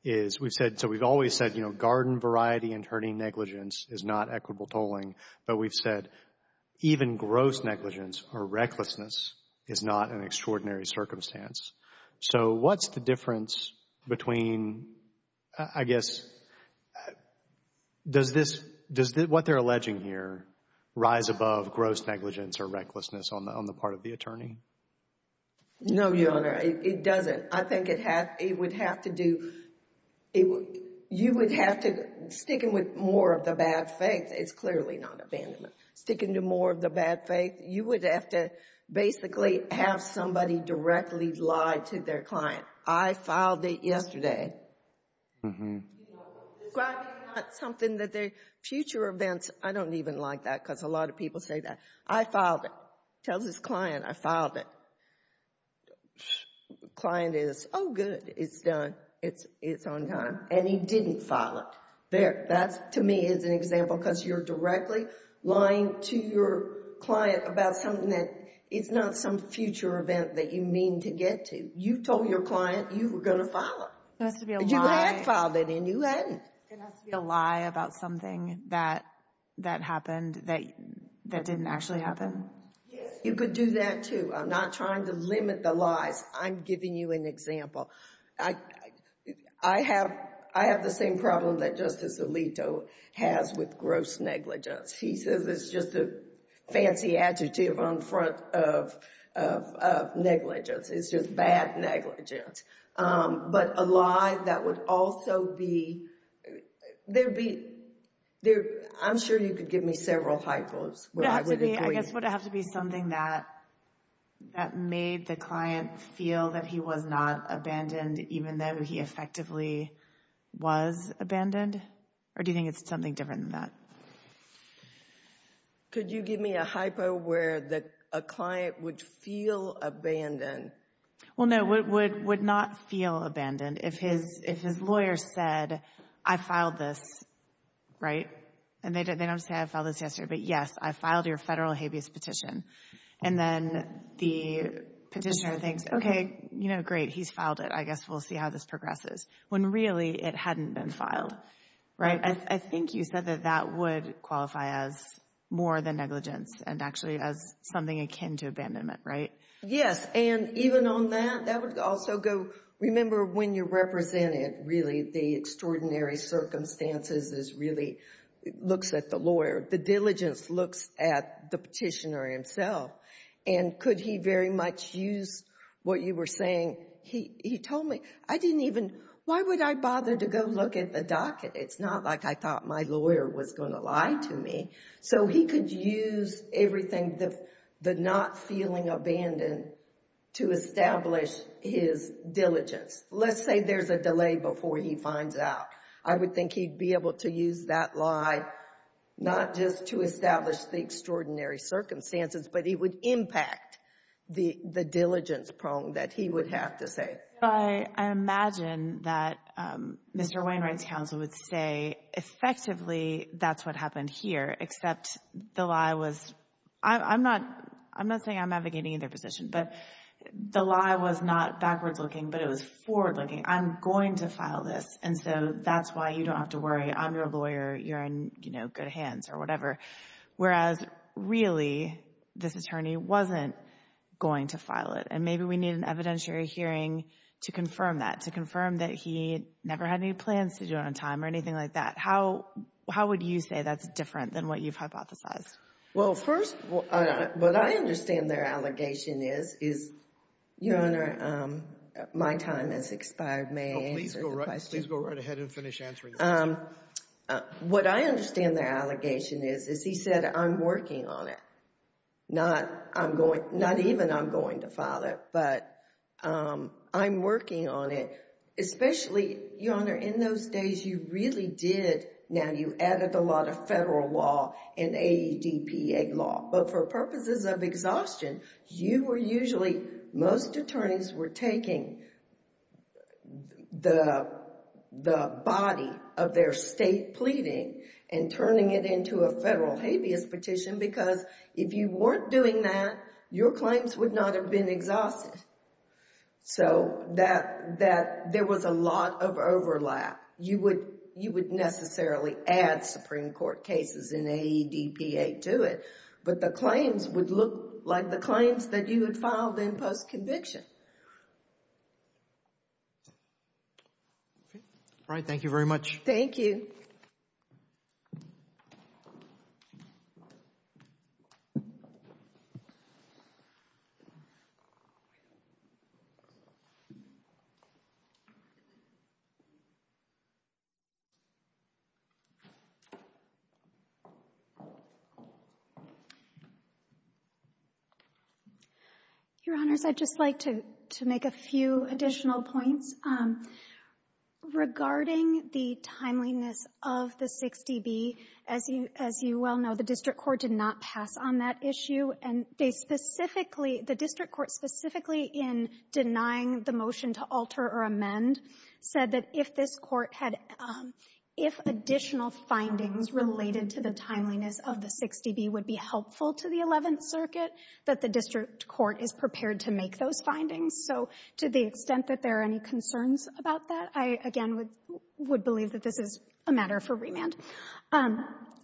is we've said, so we've always said, you know, garden variety and herding negligence is not equitable tolling, but we've said even gross negligence or recklessness is not an extraordinary circumstance. So what's the difference between, I guess, does this, does what they're alleging here rise above gross negligence or recklessness on the part of the attorney? No, Your Honor, it doesn't. I think it has, it would have to do, you would have to sticking with more of the bad faith, it's clearly not abandonment. Sticking to more of the bad faith, you would have to basically have somebody directly lie to their client. I filed it yesterday. Mm-hmm. Describing not something that their future events, I don't even like that because a lot of people say that. I filed it. Tells his client I filed it. Client is, oh good, it's done. It's on time. And he didn't file it. That, to me, is an example because you're directly lying to your client about something that is not some future event that you mean to get to. You told your client you were going to file it. It has to be a lie. You had filed it and you hadn't. It has to be a lie about something that happened that didn't actually happen. Yes, you could do that too. I'm not trying to limit the lies. I'm giving you an example. I have the same problem that Justice Alito has with gross negligence. He says it's just a fancy adjective on front of negligence. It's just bad negligence. But a lie that would also be, there'd be I'm sure you could give me several hypos. I guess it would have to be something that made the client feel that he was not abandoned even though he effectively was abandoned. Or do you think it's something different than that? Could you give me a hypo where a client would feel abandoned? Well, no, would not feel abandoned if his lawyer said I filed this, right? And they don't say I filed this yesterday, but yes, I filed your federal habeas petition. And then the petitioner thinks, okay, great, he's filed it. I guess we'll see how this progresses. When really it hadn't been filed. I think you said that that would qualify as more than negligence and actually as something akin to abandonment, right? Yes, and even on that, that would also go, remember when you represented really the extraordinary circumstances is really looks at the lawyer. The diligence looks at the petitioner himself. And could he very much use what you were saying? He told me, I didn't even, why would I bother to go look at the docket? It's not like I thought my lawyer was going to lie to me. So he could use everything the not feeling abandoned to establish his diligence. Let's say there's a delay before he finds out. I would think he'd be able to use that lie, not just to establish the extraordinary circumstances, but it would impact the diligence prong that he would have to say. I imagine that Mr. Wainwright's counsel would say effectively that's what happened here, except the lie was, I'm not saying I'm advocating either position, but the lie was not backwards looking, but it was forward looking. I'm going to file this. And so that's why you don't have to worry. I'm your lawyer. You're in good hands or whatever. Whereas really this attorney wasn't going to file it. And maybe we need an evidentiary hearing to confirm that, to confirm that he never had any plans to do it on time or anything like that. How would you say that's different than what you've hypothesized? Well, first, what I understand their allegation is is, Your Honor, my time has expired. May I answer the question? Please go right ahead and finish answering the question. What I understand their allegation is, is he said I'm working on it. Not even I'm going to file it, but I'm working on it. Especially, Your Honor, in those days you really did, now you added a lot of AEDPA law. But for purposes of exhaustion, you were usually most attorneys were taking the body of their state pleading and turning it into a federal habeas petition because if you weren't doing that, your claims would not have been exhausted. So that there was a lot of overlap. You would necessarily add Supreme Court cases and AEDPA to it, but the claims would look like the claims that you had filed in post-conviction. Alright, thank you very much. Thank you. Your Honors, I'd just like to make a few additional points. Regarding the timeliness of the 6dB, as you well know, the district court did not pass on that issue. And they specifically, the district court specifically in denying the motion to alter or amend said that if this court had, if additional findings related to the timeliness of the 6dB would be helpful to the 11th circuit, that the district court is prepared to make those findings. So to the extent that there are any concerns about that, I again would believe that this is a matter for remand.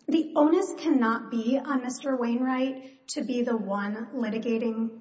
The onus cannot be on Mr. Wainwright to be the one litigating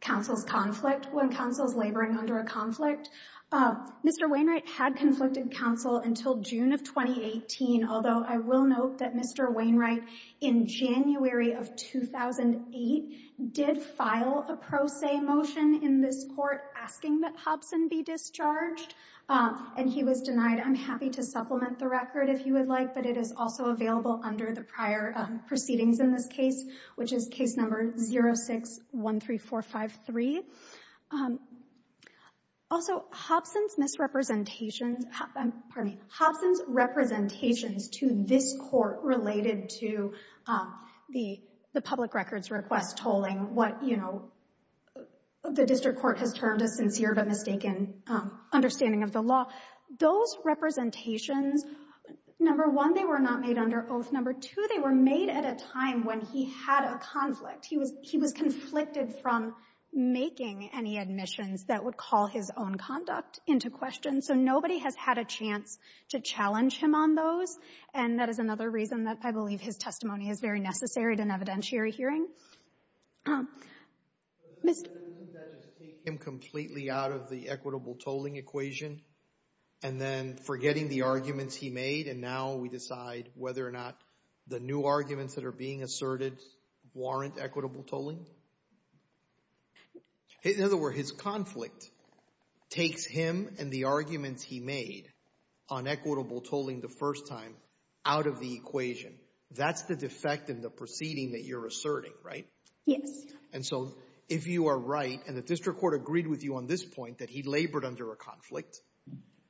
counsel's conflict when counsel is laboring under a conflict. Mr. Wainwright had conflicted counsel until June of 2018, although I will note that Mr. Wainwright in January of 2008 did file a pro se motion in this court asking that Hobson be discharged. And he was denied. I'm happy to supplement the record if you would like, but it is also available under the prior proceedings in this case, which is case number 06-13453. Also, Hobson's misrepresentations to this court related to the public records request tolling, what the district court has termed a sincere but mistaken understanding of the law. Those representations, number one, they were not made under oath. Number two, they were made at a time when he had a conflict. He was conflicted from making any admissions that would call his own conduct into question, so nobody has had a chance to challenge him on those. And that is another reason that I believe his testimony is very necessary at an evidentiary hearing. Doesn't that just take him completely out of the equitable tolling equation and then forgetting the arguments he made, and now we decide whether or not the new arguments that are being asserted warrant equitable tolling? In other words, his testimony takes him and the arguments he made on equitable tolling the first time out of the equation. That's the defect in the proceeding that you're asserting, right? Yes. And so if you are right, and the district court agreed with you on this point that he labored under a conflict,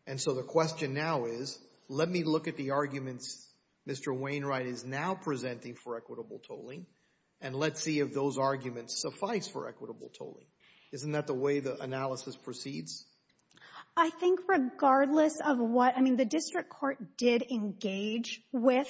and so the question now is, let me look at the arguments Mr. Wainwright is now presenting for equitable tolling, and let's see if those arguments suffice for equitable tolling. Isn't that the way the analysis proceeds? I think regardless of what, I mean, the district court did engage with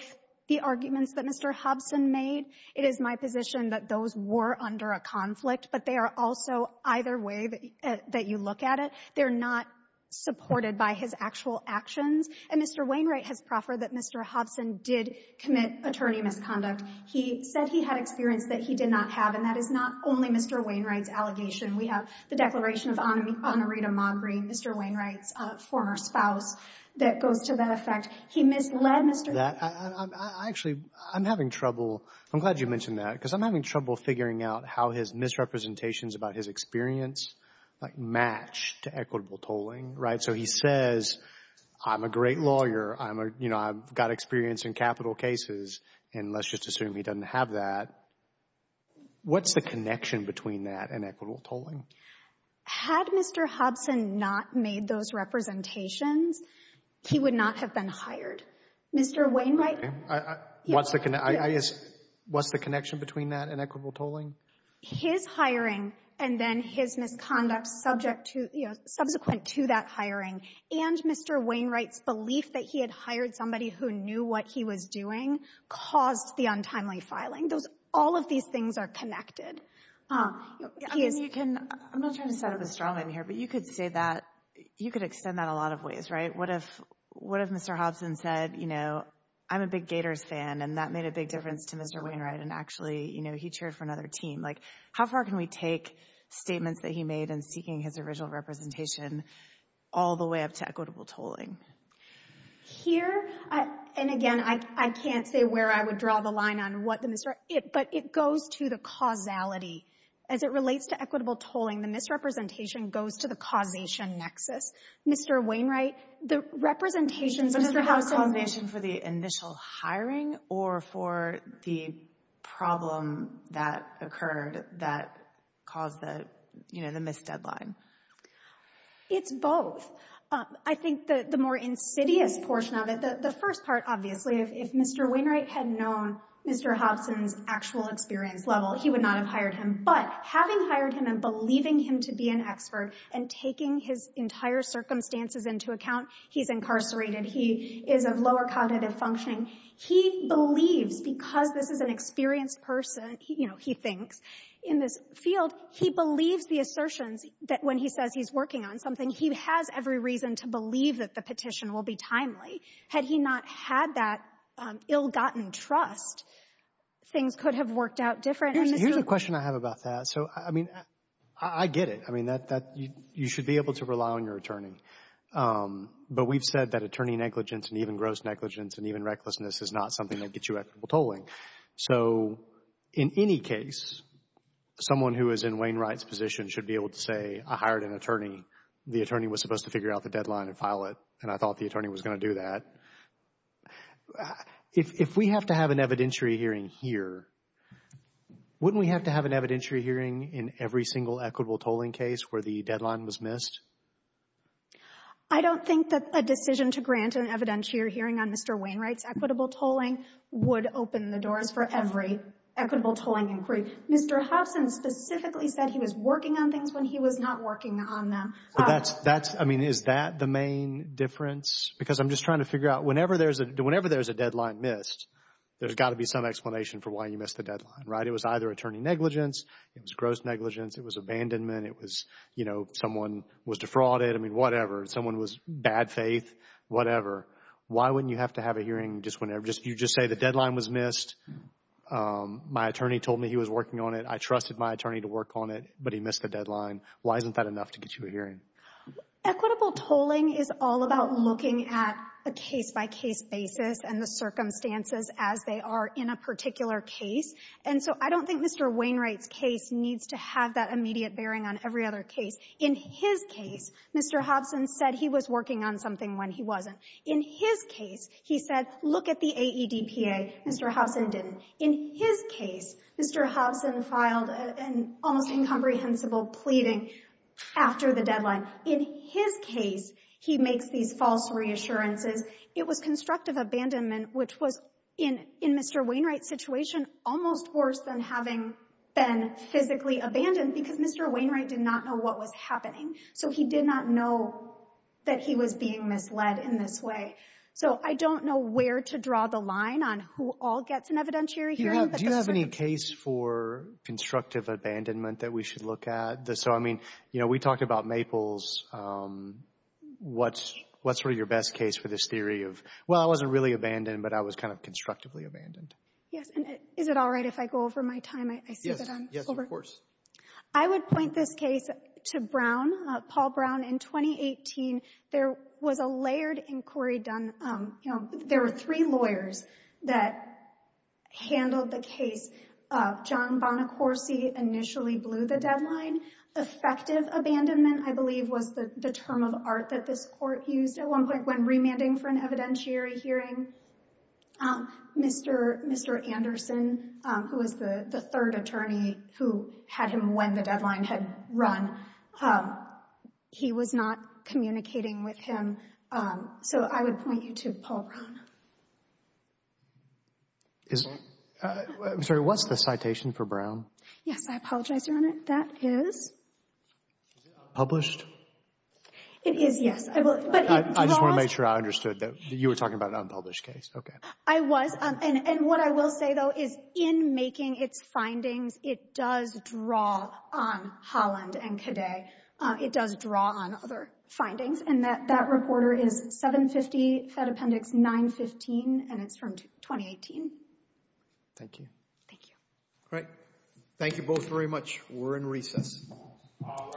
the arguments that Mr. Hobson made. It is my position that those were under a conflict, but they are also, either way that you look at it, they're not supported by his actual actions. And Mr. Wainwright has proffered that Mr. Hobson did commit attorney misconduct. He said he had experience that he did not have, and that is not only Mr. Wainwright's allegation. We have the Declaration of Honorita Magri, Mr. Wainwright's former spouse, that goes to that effect. He misled Mr. Hobson. Actually, I'm having trouble. I'm glad you mentioned that, because I'm having trouble figuring out how his misrepresentations about his experience match to equitable tolling, right? So he says, I'm a great lawyer. I'm a, you know, I've got experience in capital cases, and let's just assume he doesn't have that. What's the connection between that and equitable tolling? Had Mr. Hobson not made those representations, he would not have been hired. Mr. Wainwright What's the connection between that and equitable tolling? His hiring and then his misconduct subject to, you know, subsequent to that hiring and Mr. Wainwright's belief that he had hired somebody who knew what he was doing caused the untimely filing. Those, all of these things are connected. I mean, you can, I'm not trying to set up a straw man here, but you could say that, you could extend that a lot of ways, right? What if Mr. Hobson said, you know, I'm a big Gators fan, and that made a big difference to Mr. Wainwright, and actually, you know, he chaired for another team. Like, how far can we take statements that he made in seeking his original representation all the way up to equitable tolling? Here, and again, I can't say where I would draw the line on what the misrep, but it goes to the causality. As it relates to equitable tolling, the misrepresentation goes to the causation nexus. Mr. Wainwright, the representations, Mr. Hobson For the initial hiring, or for the problem that occurred that caused the, you know, the missed deadline? It's both. I think the more insidious portion of it, the first part, obviously, if Mr. Wainwright had known Mr. Hobson's actual experience level, he would not have hired him. But, having hired him and believing him to be an expert and taking his entire circumstances into account, he's incarcerated, he is of lower cognitive functioning, he believes because this is an experienced person, you know, he thinks, in this field, he believes the assertions that when he says he's working on something he has every reason to believe that the petition will be timely. Had he not had that ill-gotten trust, things could have worked out differently. Here's a question I have about that. I get it. You should be able to rely on your attorney. But we've said that attorney negligence and even gross negligence and even recklessness is not something that gets you equitable tolling. So, in any case, someone who is in Wainwright's position should be able to say I hired an attorney, the attorney was supposed to figure out the deadline and file it, and I thought the attorney was going to do that. If we have to have an evidentiary hearing here, wouldn't we have to have an evidentiary hearing in every single equitable tolling case where the deadline was missed? I don't think that a decision to grant an evidentiary hearing on Mr. Wainwright's equitable tolling would open the doors for every equitable tolling inquiry. Mr. Hobson specifically said he was working on things when he was not working on them. Is that the main difference? Because I'm just trying to figure out whenever there's a deadline missed, there's got to be some explanation for why you missed the deadline, right? It was either attorney negligence, it was gross negligence, it was abandonment, it was someone was defrauded, I mean, whatever. Someone was bad faith, whatever. Why wouldn't you have to have a hearing just whenever you just say the deadline was missed, my attorney told me he was working on it, I trusted my attorney to work on it, but he missed the deadline. Why isn't that enough to get you a hearing? Equitable tolling is all about looking at a case-by-case basis and the circumstances as they are in a particular case, and so I don't think Mr. Wainwright's case needs to have that immediate bearing on every other case. In his case, Mr. Hobson said he was working on something when he wasn't. In his case, he said, look at the AEDPA. Mr. Hobson didn't. In his case, Mr. Hobson filed an almost incomprehensible pleading after the deadline. In his case, he makes these false reassurances. It was constructive abandonment, which was, in Mr. Wainwright's situation, almost worse than having been physically abandoned, because Mr. Wainwright did not know what was happening, so he did not know that he was being misled in this way. So I don't know where to draw the line on who all gets an evidentiary hearing. Do you have any case for constructive abandonment that we should look at? So, I mean, you know, we talked about Maples. What's sort of your best case for this theory of, well, I wasn't really abandoned, but I was kind of constructively abandoned? Yes. And is it all right if I go over my time? I see that I'm over. Yes, of course. I would point this case to Brown, Paul Brown. In 2018, there was a layered inquiry done on, you know, there were three lawyers that handled the case. John Bonacorsi initially blew the deadline. Effective abandonment, I believe, was the term of art that this court used at one point when remanding for an evidentiary hearing. Mr. Anderson, who was the third attorney who had him when the deadline had run, he was not communicating with him. So I would point you to Paul Brown. I'm sorry, what's the citation for Brown? Yes, I apologize, Your Honor. That is... Published? It is, yes. I just want to make sure I understood that you were talking about an unpublished case. Okay. I was, and what I will say, though, is in making its findings, it does draw on Holland and Cadet. It does draw on other findings, and that reporter is 750 Fed Appendix 915, and it's from 2018. Thank you. Thank you. Great. Thank you both very much. We're in recess. All rise.